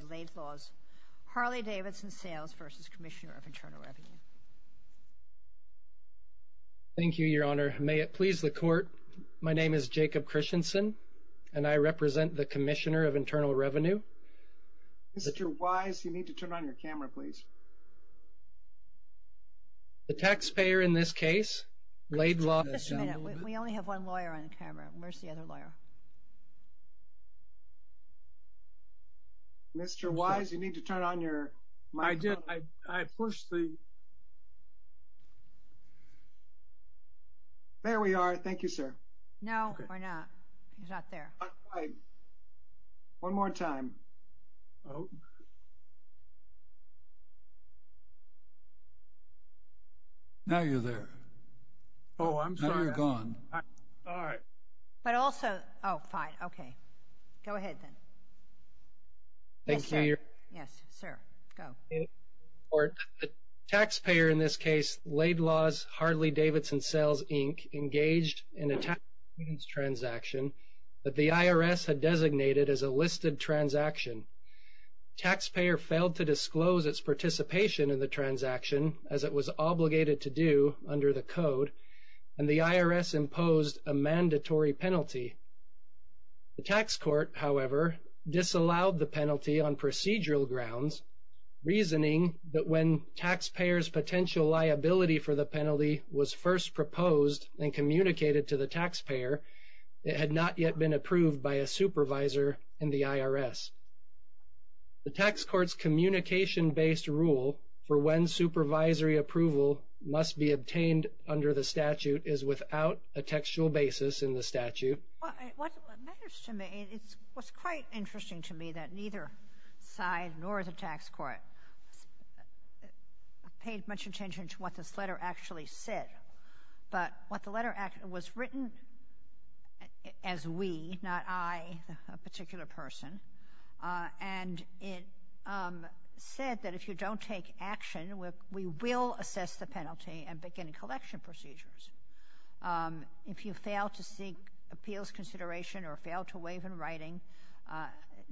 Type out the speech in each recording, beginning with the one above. Thank you, Your Honor. May it please the Court, my name is Jacob Christensen, and I represent the Commissioner of Internal Revenue. Mr. Wise, you need to turn on your camera, please. The taxpayer in this case, Laidlaw's HArley Davidson Sales, INC, is a taxpayer. We only have one lawyer on camera. Where's the other lawyer? Mr. Wise, you need to turn on your microphone. I did. I pushed the... There we are. Thank you, sir. No, we're not. He's not there. All right. One more time. Now you're there. Oh, I'm sorry. Now you're gone. All right. But also... Oh, fine. Okay. Go ahead, then. Thank you, Your Honor. Yes, sir. Go. The taxpayer in this case, Laidlaw's HArley Davidson Sales, INC, engaged in a tax payments transaction that the IRS had designated as a listed transaction. Taxpayer failed to disclose its participation in the transaction, as it was obligated to do under the code, and the IRS imposed a mandatory penalty. The tax court, however, disallowed the penalty on procedural grounds, reasoning that when taxpayer's potential liability for the penalty was first proposed and communicated to the taxpayer, it had not yet been approved by a supervisor in the IRS. The tax court's communication-based rule for when supervisory approval must be obtained under the statute is without a textual basis in the statute. What matters to me—it was quite interesting to me that neither side nor the tax court paid much attention to what this letter actually said. But what the letter—it was written as we, not I, a particular person, and it said that if you don't take action, we will assess the penalty and begin collection procedures. If you fail to seek appeals consideration or fail to waive in writing,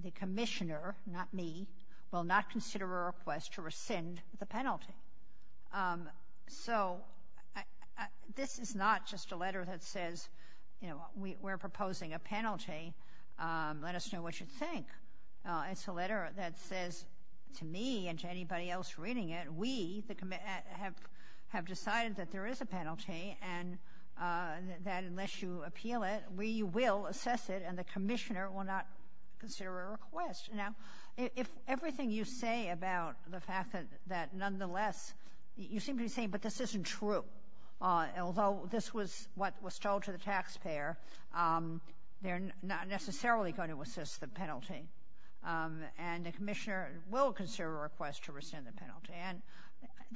the commissioner, not me, will not consider a request to rescind the penalty. So this is not just a letter that says, you know, we're proposing a penalty. Let us know what you think. It's a letter that says to me and to anybody else reading it, we have decided that there is a penalty and that unless you appeal it, we will assess it and the commissioner will not consider a request. Now, if everything you say about the fact that nonetheless—you seem to be saying, but this isn't true. Although this was what was told to the taxpayer, they're not necessarily going to assess the penalty, and the commissioner will consider a request to rescind the penalty. And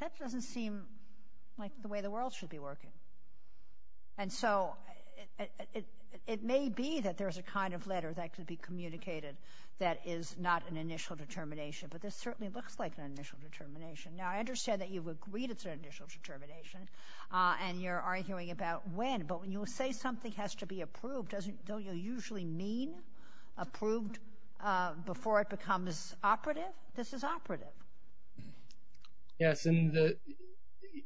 that doesn't seem like the way the world should be working. And so it may be that there's a kind of letter that could be communicated that is not an initial determination, but this certainly looks like an initial determination. Now, I understand that you've agreed it's an initial determination and you're arguing about when, but when you say something has to be approved, don't you usually mean approved before it becomes operative? This is operative. Yes, and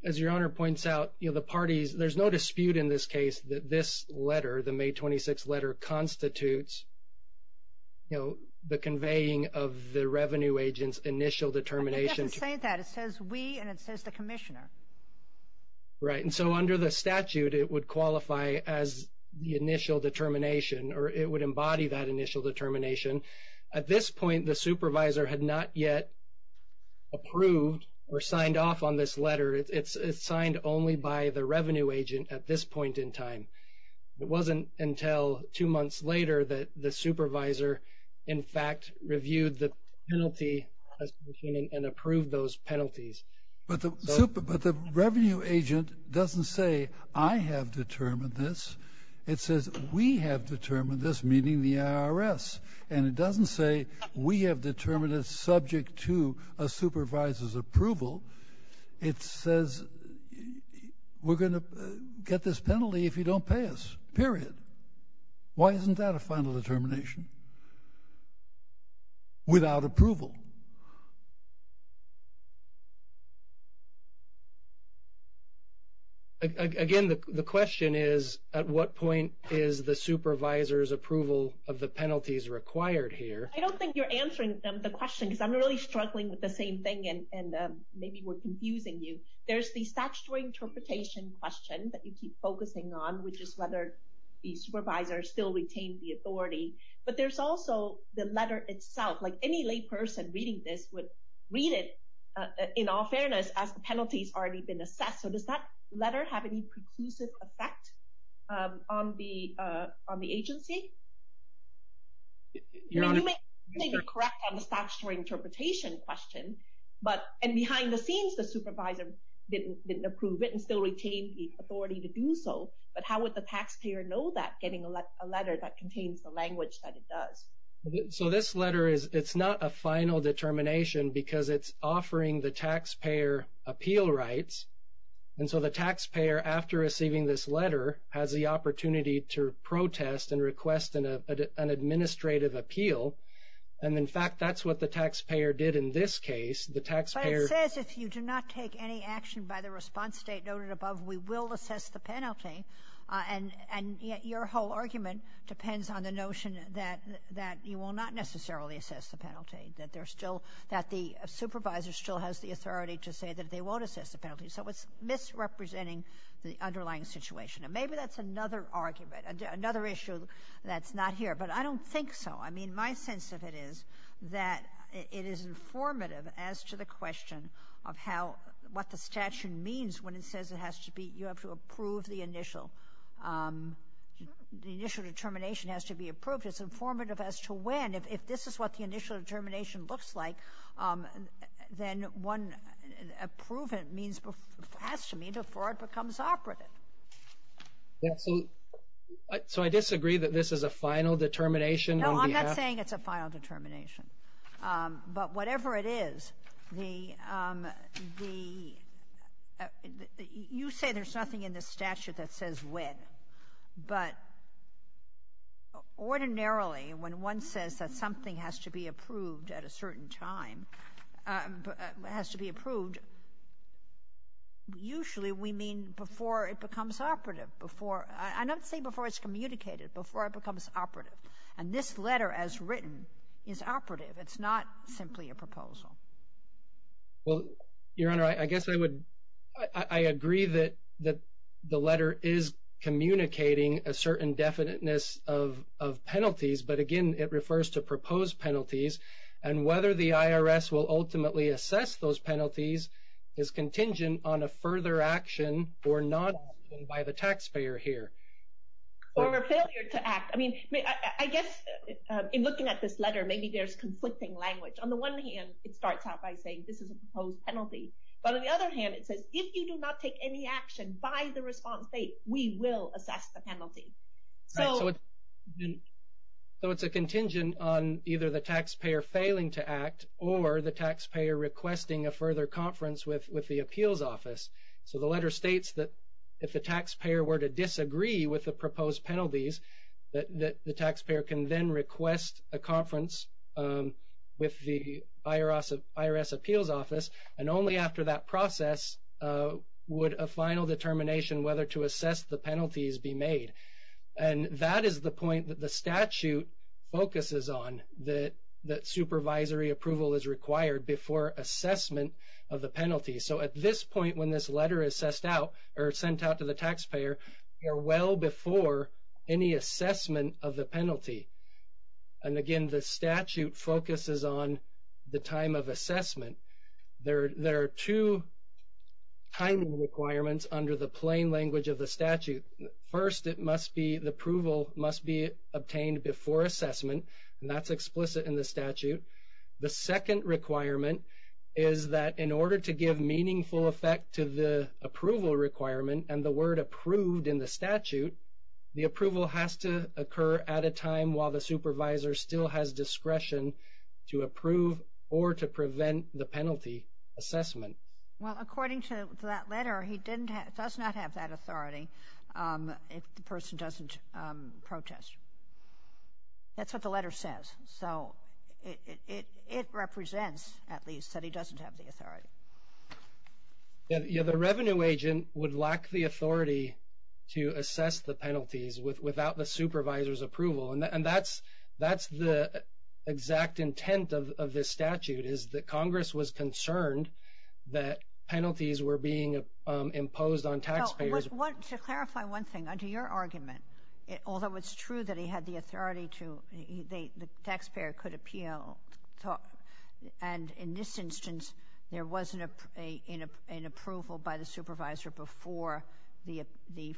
as your Honor points out, there's no dispute in this case that this letter, the May 26th letter, constitutes the conveying of the revenue agent's initial determination. It doesn't say that. It says we and it says the commissioner. Right, and so under the statute, it would qualify as the initial determination or it would embody that initial determination. At this point, the supervisor had not yet approved or signed off on this letter. It's signed only by the revenue agent at this point in time. It wasn't until two months later that the supervisor, in fact, reviewed the penalty and approved those penalties. But the revenue agent doesn't say I have determined this. It says we have determined this, meaning the IRS, and it doesn't say we have determined it's subject to a supervisor's approval. It says we're going to get this penalty if you don't pay us, period. Why isn't that a final determination without approval? Again, the question is, at what point is the supervisor's approval of the penalties required here? I don't think you're answering the question because I'm really struggling with the same thing, and maybe we're confusing you. There's the statutory interpretation question that you keep focusing on, which is whether the supervisor still retained the authority. But there's also the letter itself, like any layperson reading this would read it, in all fairness, as the penalties already been assessed. So does that letter have any conclusive effect on the agency? You may be correct on the statutory interpretation question, and behind the scenes, the supervisor didn't approve it and still retained the authority to do so. But how would the taxpayer know that, getting a letter that contains the language that it does? So this letter, it's not a final determination because it's offering the taxpayer appeal rights. And so the taxpayer, after receiving this letter, has the opportunity to protest and request an administrative appeal. And in fact, that's what the taxpayer did in this case. But it says if you do not take any action by the response state noted above, we will assess the penalty. And your whole argument depends on the notion that you will not necessarily assess the penalty, that the supervisor still has the authority to say that they won't assess the penalty. So it's misrepresenting the underlying situation. And maybe that's another argument, another issue that's not here. But I don't think so. I mean, my sense of it is that it is informative as to the question of what the statute means when it says you have to approve the initial determination. It has to be approved. It's informative as to when. If this is what the initial determination looks like, then one approving it has to mean before it becomes operative. So I disagree that this is a final determination. No, I'm not saying it's a final determination. But whatever it is, you say there's nothing in the statute that says when. But ordinarily, when one says that something has to be approved at a certain time, has to be approved, usually we mean before it becomes operative. I don't say before it's communicated, before it becomes operative. And this letter as written is operative. It's not simply a proposal. Well, Your Honor, I guess I agree that the letter is communicating a certain definiteness of penalties. But, again, it refers to proposed penalties. And whether the IRS will ultimately assess those penalties is contingent on a further action or not by the taxpayer here. Or a failure to act. I mean, I guess in looking at this letter, maybe there's conflicting language. On the one hand, it starts out by saying this is a proposed penalty. But on the other hand, it says if you do not take any action by the response date, we will assess the penalty. So it's a contingent on either the taxpayer failing to act or the taxpayer requesting a further conference with the appeals office. So the letter states that if the taxpayer were to disagree with the proposed penalties, that the taxpayer can then request a conference with the IRS appeals office. And only after that process would a final determination whether to assess the penalties be made. And that is the point that the statute focuses on. That supervisory approval is required before assessment of the penalty. So at this point when this letter is sent out to the taxpayer, you're well before any assessment of the penalty. And, again, the statute focuses on the time of assessment. There are two timing requirements under the plain language of the statute. First, it must be the approval must be obtained before assessment. And that's explicit in the statute. The second requirement is that in order to give meaningful effect to the approval requirement and the word approved in the statute, the approval has to occur at a time while the supervisor still has discretion to approve or to prevent the penalty assessment. Well, according to that letter, he does not have that authority if the person doesn't protest. That's what the letter says. So it represents, at least, that he doesn't have the authority. Yeah, the revenue agent would lack the authority to assess the penalties without the supervisor's approval. And that's the exact intent of this statute is that Congress was concerned that penalties were being imposed on taxpayers. To clarify one thing, under your argument, although it's true that he had the authority to, the taxpayer could appeal, and in this instance there wasn't an approval by the supervisor before the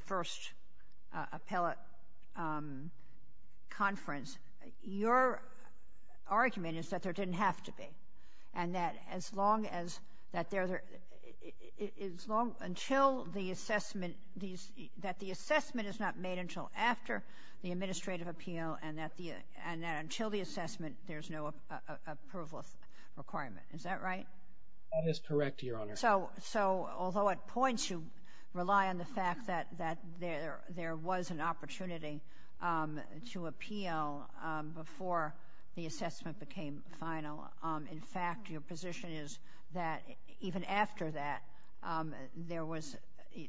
first appellate conference, your argument is that there didn't have to be. And that as long as, until the assessment, that the assessment is not made until after the administrative appeal and that until the assessment there's no approval requirement. Is that right? That is correct, Your Honor. So although at points you rely on the fact that there was an opportunity to appeal before the assessment became final, in fact, your position is that even after that, there was,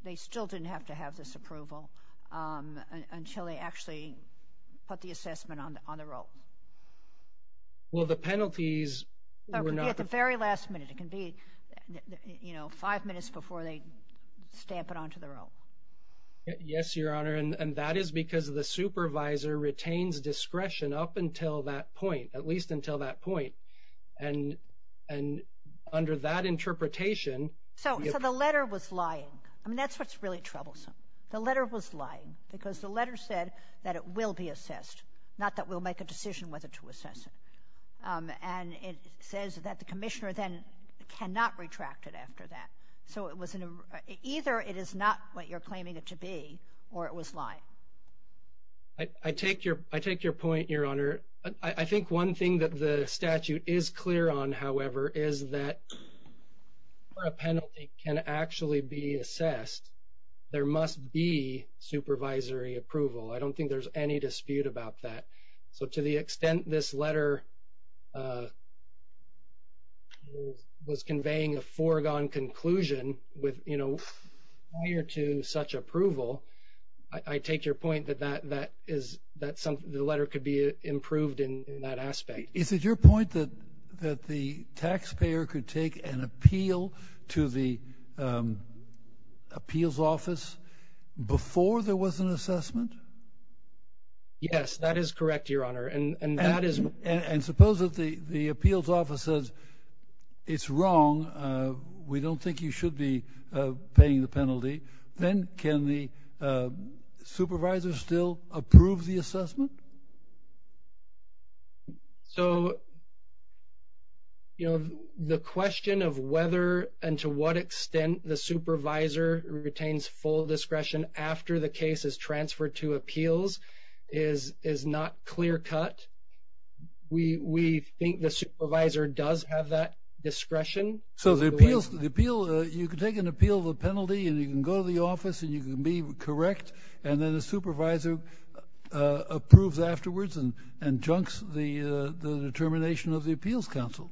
they still didn't have to have this approval until they actually put the assessment on the road. Well, the penalties were not... At the very last minute. It can be, you know, five minutes before they stamp it onto the road. Yes, Your Honor, and that is because the supervisor retains discretion up until that point, at least until that point. And under that interpretation... So the letter was lying. I mean, that's what's really troublesome. The letter was lying because the letter said that it will be assessed, not that we'll make a decision whether to assess it. And it says that the commissioner then cannot retract it after that. So either it is not what you're claiming it to be or it was lying. I take your point, Your Honor. I think one thing that the statute is clear on, however, is that before a penalty can actually be assessed, there must be supervisory approval. I don't think there's any dispute about that. So to the extent this letter was conveying a foregone conclusion prior to such approval, I take your point that the letter could be improved in that aspect. Is it your point that the taxpayer could take an appeal to the appeals office before there was an assessment? Yes, that is correct, Your Honor. And that is... And suppose that the appeals office says, it's wrong, we don't think you should be paying the penalty, then can the supervisor still approve the assessment? So, you know, the question of whether and to what extent the supervisor retains full discretion after the case is transferred to appeals is not clear cut. We think the supervisor does have that discretion. So the appeal, you can take an appeal of a penalty and you can go to the office and you can be correct and then the supervisor approves afterwards and junks the determination of the appeals council.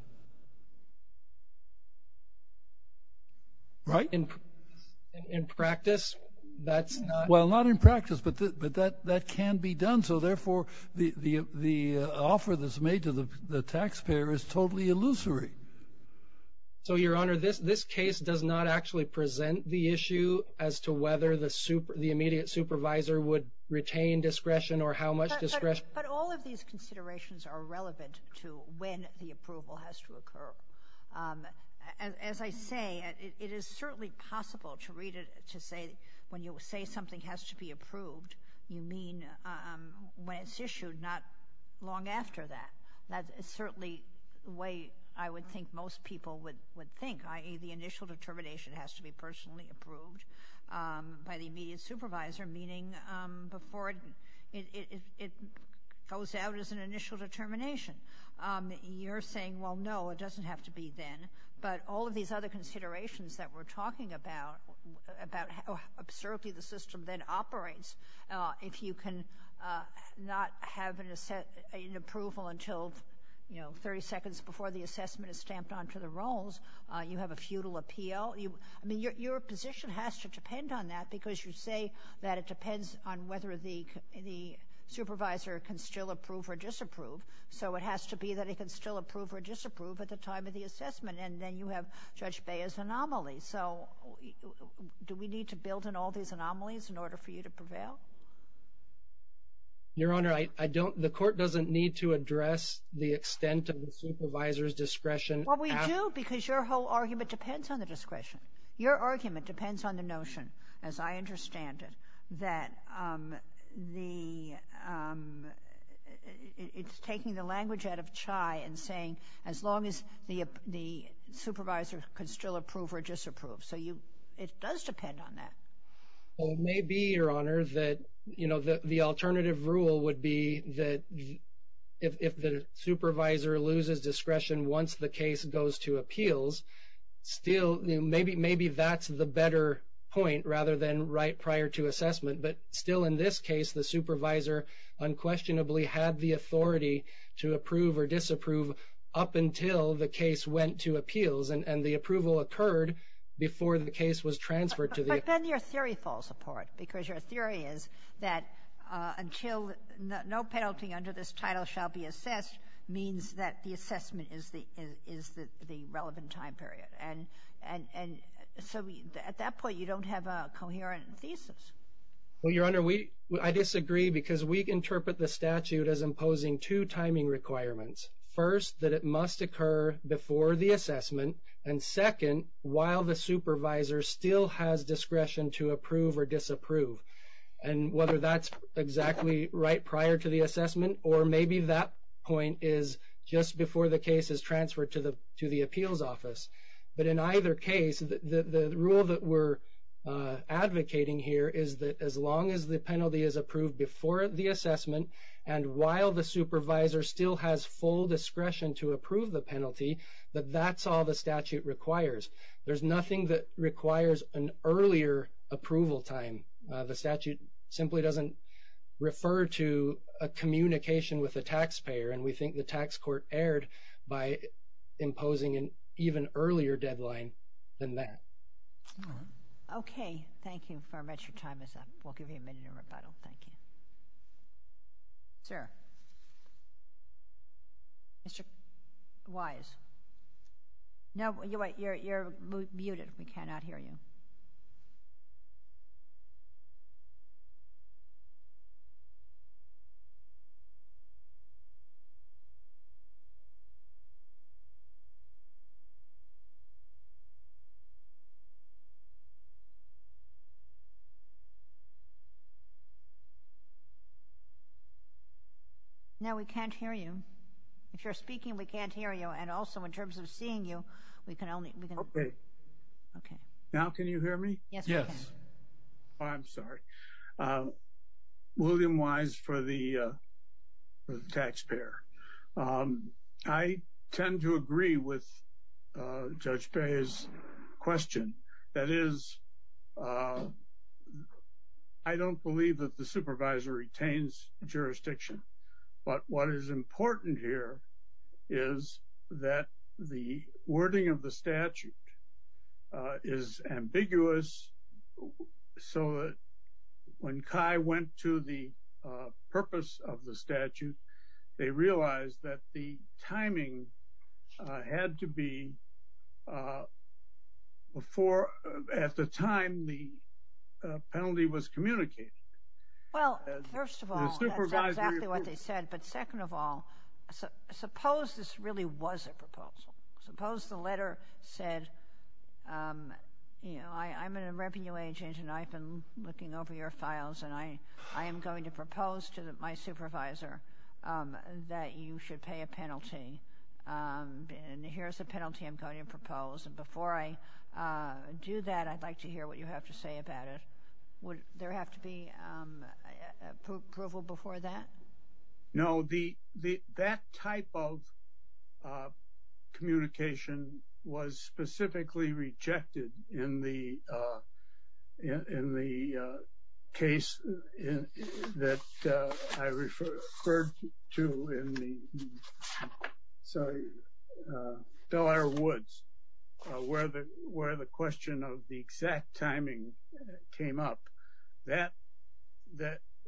Right? In practice, that's not... Well, not in practice, but that can be done. So, therefore, the offer that's made to the taxpayer is totally illusory. So, Your Honor, this case does not actually present the issue as to whether the immediate supervisor would retain discretion or how much discretion... But all of these considerations are relevant to when the approval has to occur. As I say, it is certainly possible to read it to say when you say something has to be approved, you mean when it's issued, not long after that. That is certainly the way I would think most people would think, i.e., the initial determination has to be personally approved by the immediate supervisor, meaning before it goes out as an initial determination. You're saying, well, no, it doesn't have to be then. But all of these other considerations that we're talking about, how absurdly the system then operates, if you can not have an approval until 30 seconds before the assessment is stamped onto the rolls, you have a futile appeal. I mean, your position has to depend on that, because you say that it depends on whether the supervisor can still approve or disapprove. So it has to be that it can still approve or disapprove at the time of the assessment, and then you have Judge Bea's anomaly. So do we need to build in all these anomalies in order for you to prevail? Your Honor, the court doesn't need to address the extent of the supervisor's discretion. Well, we do, because your whole argument depends on the discretion. Your argument depends on the notion, as I understand it, that it's taking the language out of Chai and saying, as long as the supervisor can still approve or disapprove. So it does depend on that. Well, it may be, your Honor, that the alternative rule would be that if the supervisor loses discretion once the case goes to appeals, maybe that's the better point rather than right prior to assessment. But still in this case, the supervisor unquestionably had the authority to approve or disapprove up until the case went to appeals, and the approval occurred before the case was transferred to the appeal. But then your theory falls apart, because your theory is that until no penalty under this title shall be assessed means that the assessment is the relevant time period. And so at that point, you don't have a coherent thesis. Well, your Honor, I disagree, because we interpret the statute as imposing two timing requirements. First, that it must occur before the assessment, and second, while the supervisor still has discretion to approve or disapprove. And whether that's exactly right prior to the assessment, or maybe that point is just before the case is transferred to the appeals office. But in either case, the rule that we're advocating here is that as long as the penalty is approved before the assessment, and while the supervisor still has full discretion to approve the penalty, that that's all the statute requires. There's nothing that requires an earlier approval time. The statute simply doesn't refer to a communication with a taxpayer, and we think the tax court erred by imposing an even earlier deadline than that. Okay. Thank you very much. Your time is up. We'll give you a minute of rebuttal. Thank you. Sir? Mr. Wise? No, you're muted. We cannot hear you. No, we can't hear you. If you're speaking, we can't hear you. And also, in terms of seeing you, we can only hear you. Okay. Now can you hear me? Yes, we can. William Wise for the taxpayer. Okay. I tend to agree with Judge Pei's question. That is, I don't believe that the supervisor retains jurisdiction. But what is important here is that the wording of the statute is ambiguous. So when CHI went to the purpose of the statute, they realized that the timing had to be before at the time the penalty was communicated. Well, first of all, that's exactly what they said. But second of all, suppose this really was a proposal. Suppose the letter said, you know, I'm a revenue agent, and I've been looking over your files, and I am going to propose to my supervisor that you should pay a penalty. And here's the penalty I'm going to propose. And before I do that, I'd like to hear what you have to say about it. Would there have to be approval before that? No. That type of communication was specifically rejected in the case that I referred to in the, sorry, Delaware Woods, where the question of the exact timing came up.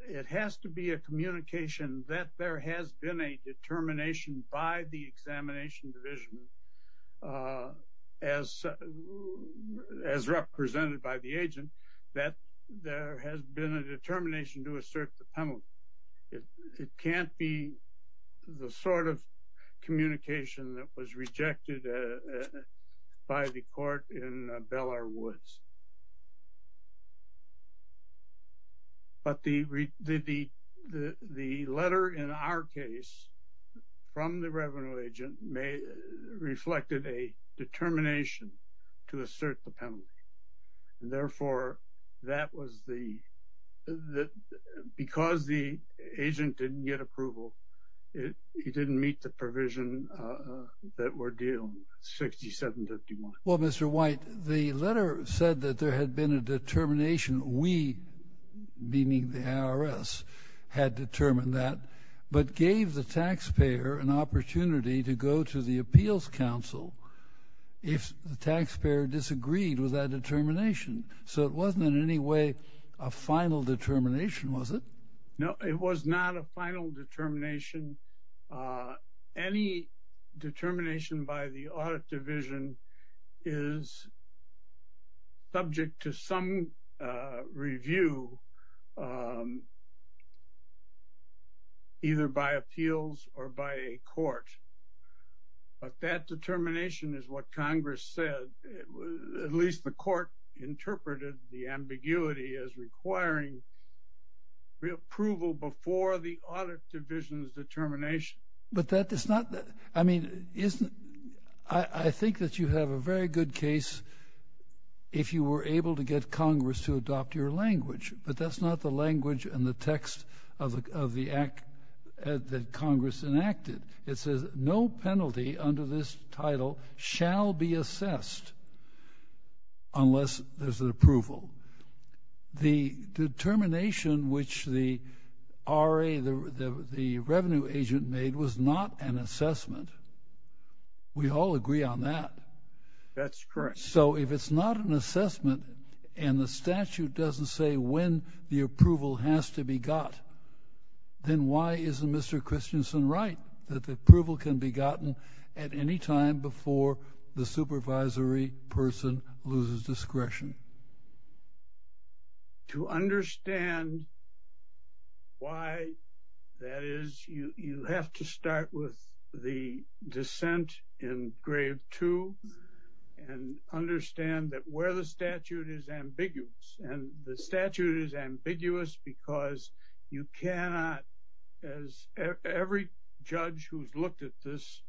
It has to be a communication that there has been a determination by the examination division, as represented by the agent, that there has been a determination to assert the penalty. It can't be the sort of communication that was rejected by the court in Delaware Woods. But the letter in our case from the revenue agent reflected a determination to assert the penalty. And therefore, that was the, because the agent didn't get approval, it didn't meet the provision that we're dealing with, 6751. Well, Mr. White, the letter said that there had been a determination. We, meaning the IRS, had determined that, but gave the taxpayer an opportunity to go to the appeals council if the taxpayer disagreed with that determination. So it wasn't in any way a final determination, was it? No, it was not a final determination. Any determination by the audit division is subject to some review, either by appeals or by a court. But that determination is what Congress said. At least the court interpreted the ambiguity as requiring approval before the audit division's determination. But that is not, I mean, isn't, I think that you have a very good case if you were able to get Congress to adopt your language. But that's not the language and the text of the act that Congress enacted. It says no penalty under this title shall be assessed unless there's an approval. The determination which the RA, the revenue agent, made was not an assessment. We all agree on that. That's correct. So if it's not an assessment and the statute doesn't say when the approval has to be got, then why isn't Mr. Christensen right that the approval can be gotten at any time before the supervisory person loses discretion? To understand why that is, you have to start with the dissent in Grave 2 and understand that where the statute is ambiguous. And the statute is ambiguous because you cannot, as every judge who's looked at this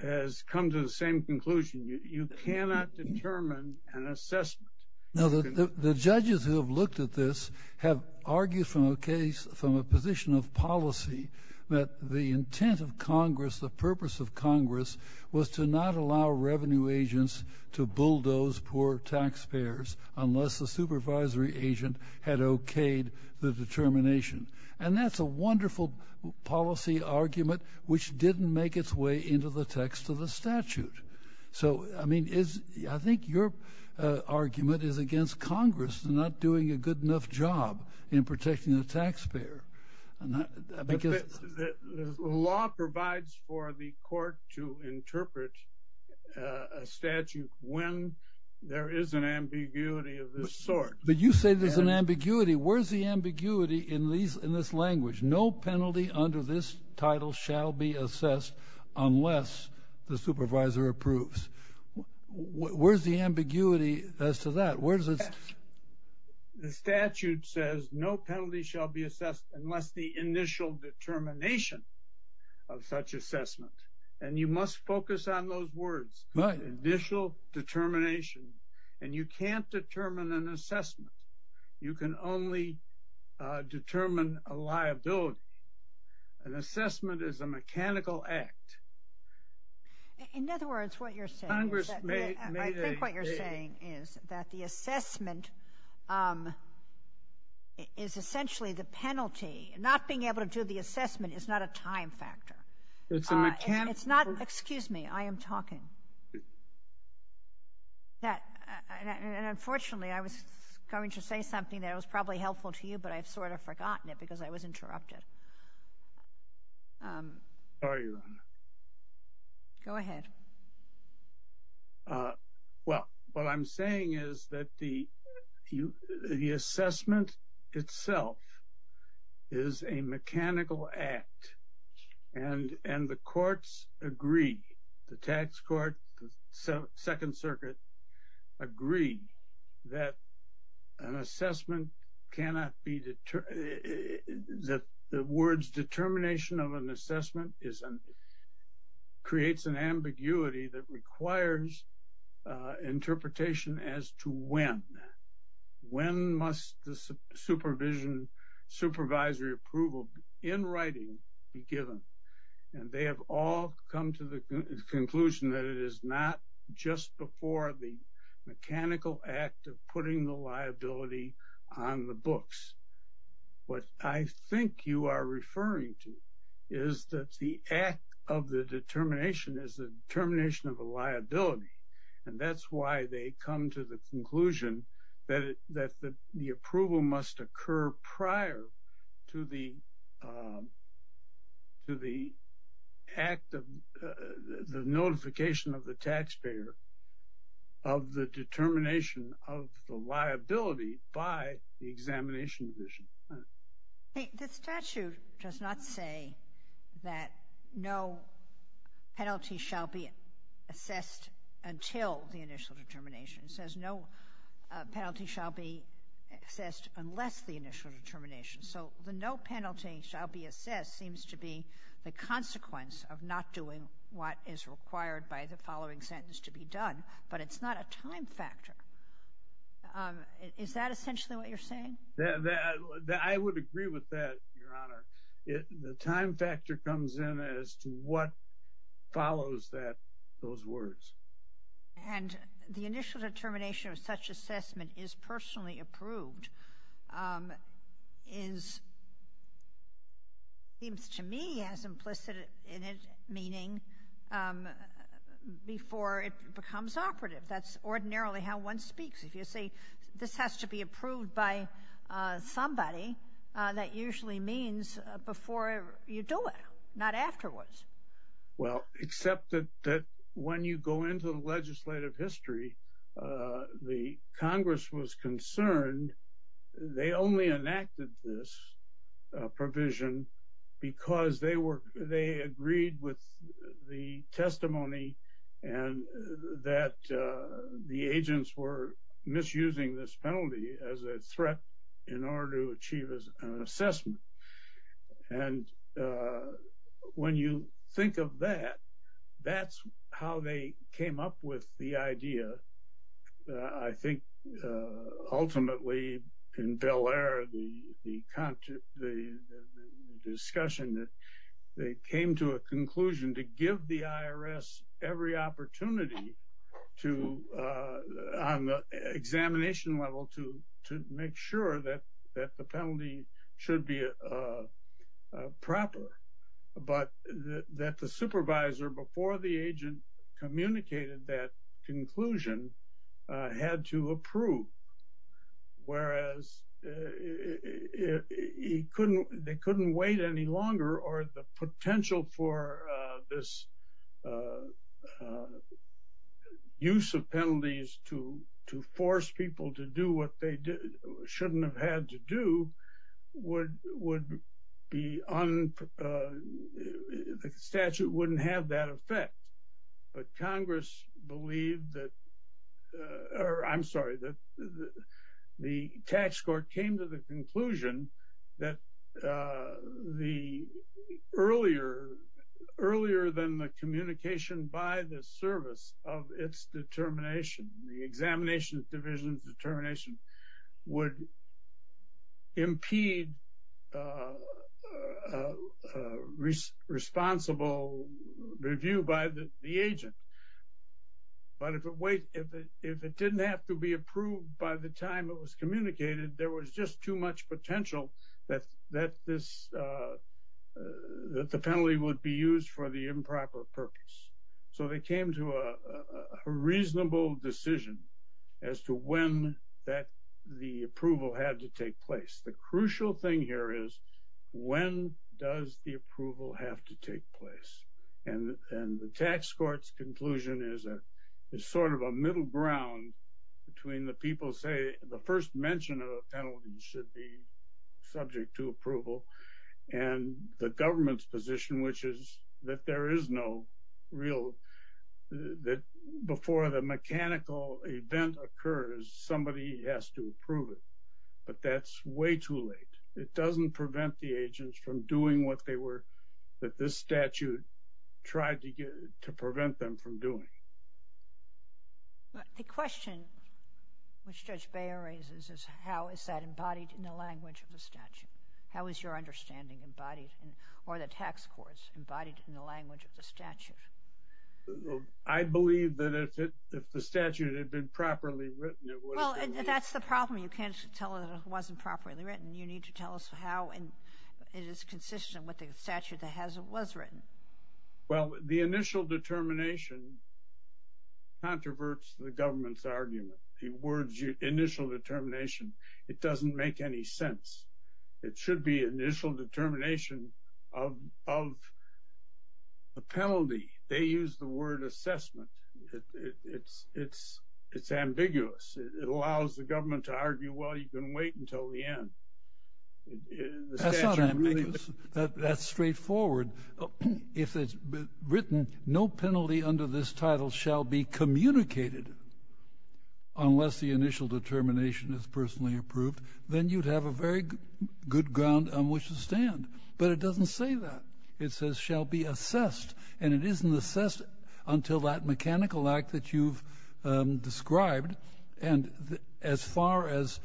has come to the same conclusion, you cannot determine an assessment. Now, the judges who have looked at this have argued from a case, from a position of policy that the intent of Congress, the purpose of Congress, was to not allow revenue agents to bulldoze poor taxpayers unless the supervisory agent had okayed the determination. And that's a wonderful policy argument which didn't make its way into the text of the statute. So, I mean, I think your argument is against Congress not doing a good enough job in protecting the taxpayer. The law provides for the court to interpret a statute when there is an ambiguity of this sort. But you say there's an ambiguity. Where's the ambiguity in this language? No penalty under this title shall be assessed unless the supervisor approves. Where's the ambiguity as to that? The statute says no penalty shall be assessed unless the initial determination of such assessment. And you must focus on those words, initial determination. And you can't determine an assessment. You can only determine a liability. An assessment is a mechanical act. In other words, what you're saying is that, the assessment is essentially the penalty. Not being able to do the assessment is not a time factor. Excuse me, I am talking. Unfortunately, I was going to say something that was probably helpful to you, but I've sort of forgotten it because I was interrupted. Sorry, Your Honor. Go ahead. Well, what I'm saying is that the assessment itself is a mechanical act. And the courts agreed, the tax court, the Second Circuit, agreed that the words determination of an assessment creates an ambiguity that requires interpretation as to when. When must the supervisory approval in writing be given? And they have all come to the conclusion that it is not just before the mechanical act of putting the liability on the books. What I think you are referring to is that the act of the determination is the determination of the liability. And that's why they come to the conclusion that the approval must occur prior to the act of the notification of the taxpayer of the determination of the The statute does not say that no penalty shall be assessed until the initial determination. It says no penalty shall be assessed unless the initial determination. So the no penalty shall be assessed seems to be the consequence of not doing what is required by the following sentence to be done. But it's not a time factor. Is that essentially what you're saying? I would agree with that, Your Honor. The time factor comes in as to what follows those words. And the initial determination of such assessment is personally approved. It seems to me as implicit in its meaning before it becomes operative. That's ordinarily how one speaks. If you say this has to be approved by somebody, that usually means before you do it, not afterwards. Well, except that when you go into the legislative history, the Congress was concerned they only enacted this provision because they agreed with the agents were misusing this penalty as a threat in order to achieve an assessment. And when you think of that, that's how they came up with the idea. I think ultimately in Bel Air, the discussion that they came to a conclusion on the examination level to make sure that the penalty should be proper, but that the supervisor before the agent communicated that conclusion had to approve. Whereas they couldn't wait any longer or the potential for this use of penalties to force people to do what they shouldn't have had to do would be un, the statute wouldn't have that effect. But Congress believed that, or I'm sorry, that the tax court came to the conclusion that the earlier, earlier than the communication by the service of its determination, the examination division determination would impede responsible review by the agent. But if it wait, if it didn't have to be approved by the time it was communicated, there was just too much potential that this, that the penalty would be used for the improper purpose. So they came to a reasonable decision as to when that the approval had to take place. The crucial thing here is when does the approval have to take place? And, and the tax court's conclusion is a, is sort of a middle ground between the people say the first mention of penalties should be subject to approval and the government's position, which is that there is no real, that before the mechanical event occurs, somebody has to approve it. But that's way too late. It doesn't prevent the agents from doing what they were, that this statute tried to get, to prevent them from doing. The question which Judge Beyer raises is how is that embodied in the language of the statute? How is your understanding embodied in, or the tax courts embodied in the language of the statute? I believe that if it, if the statute had been properly written, it would have been Well, that's the problem. You can't tell it wasn't properly written. You need to tell us how it is consistent with the statute that has, that was written. Well, the initial determination controverts the government's argument. The words initial determination. It doesn't make any sense. It should be initial determination of, of a penalty. They use the word assessment. It's, it's, it's ambiguous. It allows the government to argue, well, you can wait until the end. That's not ambiguous. That's straightforward. If it's written, no penalty under this title shall be communicated unless the initial determination is personally approved. Then you'd have a very good ground on which to stand. But it doesn't say that. It says shall be assessed. And it isn't assessed until that mechanical act that you've described. And as far as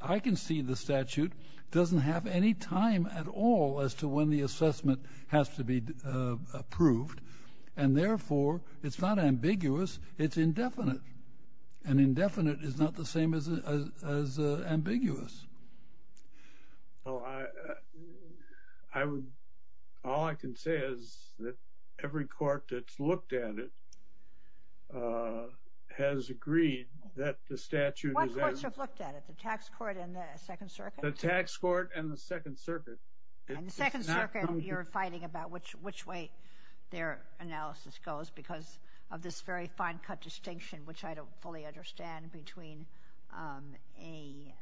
I can see, the statute doesn't have any time at all as to when the assessment has to be approved. And therefore, it's not ambiguous. It's indefinite. And indefinite is not the same as, as, as ambiguous. Well, I, I would, all I can say is that every court that's looked at it has agreed that the statute is. What courts have looked at it? The tax court and the second circuit? The tax court and the second circuit. And the second circuit, you're fighting about which, which way their analysis goes because of this very fine cut distinction, which I don't fully understand between a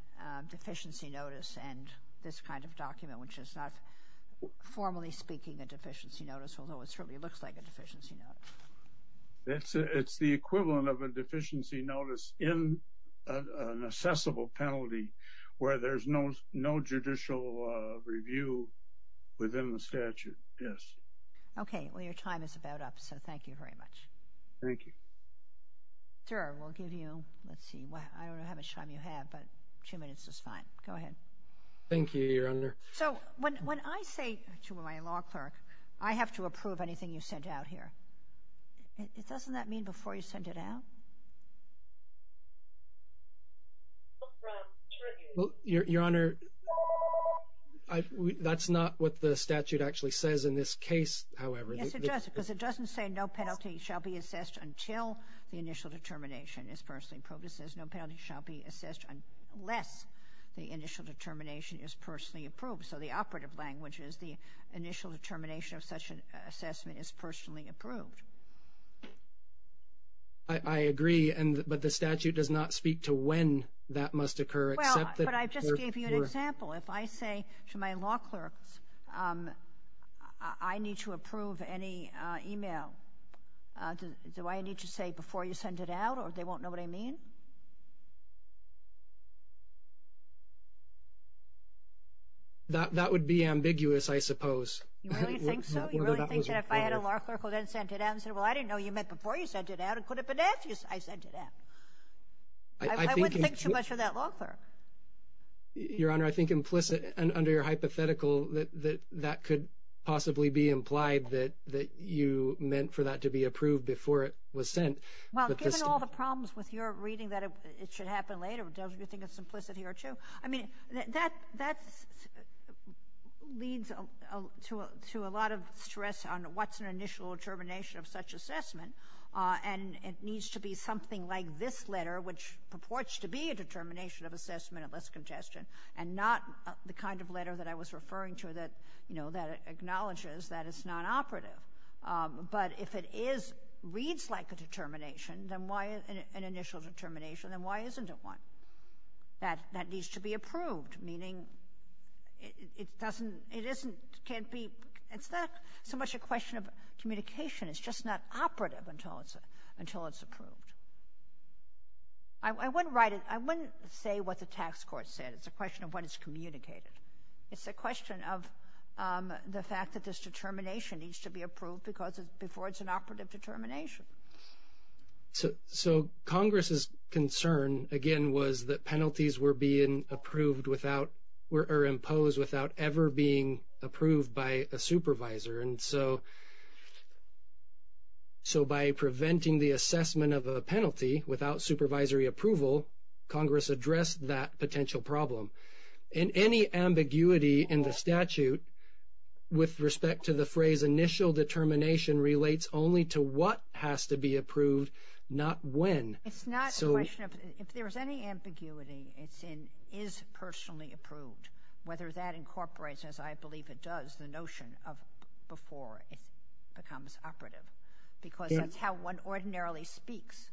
deficiency notice and this kind of document, which is not formally speaking a deficiency notice, although it certainly looks like a deficiency notice. It's the equivalent of a deficiency notice in an assessable penalty where there's no, no judicial review within the statute. Yes. Okay. Well, your time is about up. So thank you very much. Thank you. Sure. We'll give you, let's see. I don't know how much time you have, but two minutes is fine. Go ahead. Thank you. You're under. So when, when I say to my law clerk, I have to approve anything you sent out here. It doesn't that mean before you send it out? Your honor, that's not what the statute actually says in this case. However, it doesn't say no penalty shall be assessed until the initial determination is personally approved. It says no penalty shall be assessed unless the initial determination is personally approved. So the operative language is the initial determination of such an assessment is personally approved. I agree. But the statute does not speak to when that must occur. Well, but I just gave you an example. If I say to my law clerk, I need to approve any email. Do I need to say before you send it out or they won't know what I mean? That would be ambiguous, I suppose. You really think so? You really think that if I had a law clerk who then sent it out and said, well, I didn't know you meant before you sent it out, it could have been ambiguous I sent it out. I wouldn't think too much of that law clerk. Your honor, I think implicit under your hypothetical that that could possibly be implied that you meant for that to be approved before it was sent. Well, given all the problems with your reading that it should happen later, don't you think it's implicit here too? I mean, that leads to a lot of stress on what's an initial determination of such assessment. And it needs to be something like this letter, which purports to be a determination of assessment unless contested, and not the kind of letter that I was referring to that acknowledges that it's not operative. But if it reads like a determination, an initial determination, then why isn't it one that needs to be approved? Meaning it's not so much a question of communication. It's just not operative until it's approved. I wouldn't say what the tax court said. It's a question of what is communicated. It's a question of the fact that this determination needs to be approved before it's an operative determination. So Congress's concern, again, was that penalties were being approved or imposed without ever being approved by a supervisor. And so by preventing the assessment of a penalty without supervisory approval, Congress addressed that potential problem. And any ambiguity in the statute with respect to the phrase initial determination relates only to what has to be approved, not when. It's not a question of if there's any ambiguity, it's in is personally approved, whether that incorporates, as I believe it does, the notion of before it becomes operative because that's how one ordinarily speaks.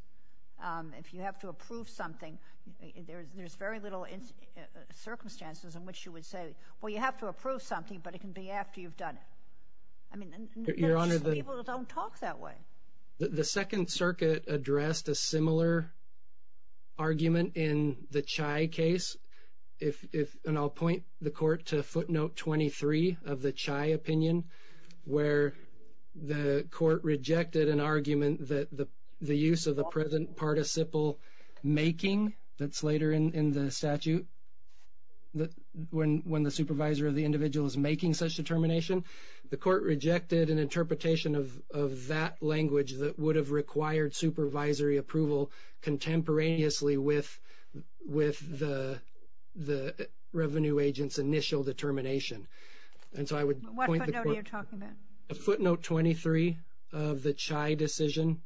If you have to approve something, there's very little circumstances in which you would say, well, you have to approve something, but it can be after you've done it. I mean, there are people who don't talk that way. The Second Circuit addressed a similar argument in the Chai case. And I'll point the court to footnote 23 of the Chai opinion where the court rejected an argument that the use of the present participle making, that's later in the statute, when the supervisor or the individual is making such determination, the court rejected an interpretation of that language that would have required supervisory approval contemporaneously with the revenue agent's initial determination. And so I would point the court. What footnote are you talking about? Footnote 23 of the Chai decision.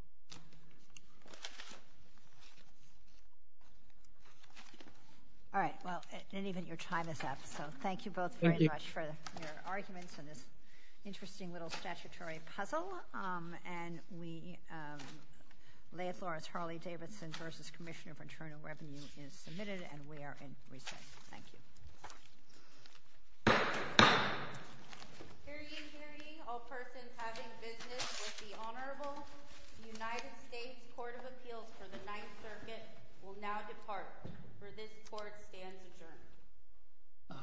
All right. Well, and even your time is up. So thank you both very much for your arguments and this interesting little statutory puzzle. And we lay it forth. Harley Davidson v. Commissioner for Internal Revenue is submitted and we are in recess. Thank you. Hearing, hearing, all persons having business with the Honorable United States Court of Appeals for the Ninth Circuit will now depart. For this court stands adjourned.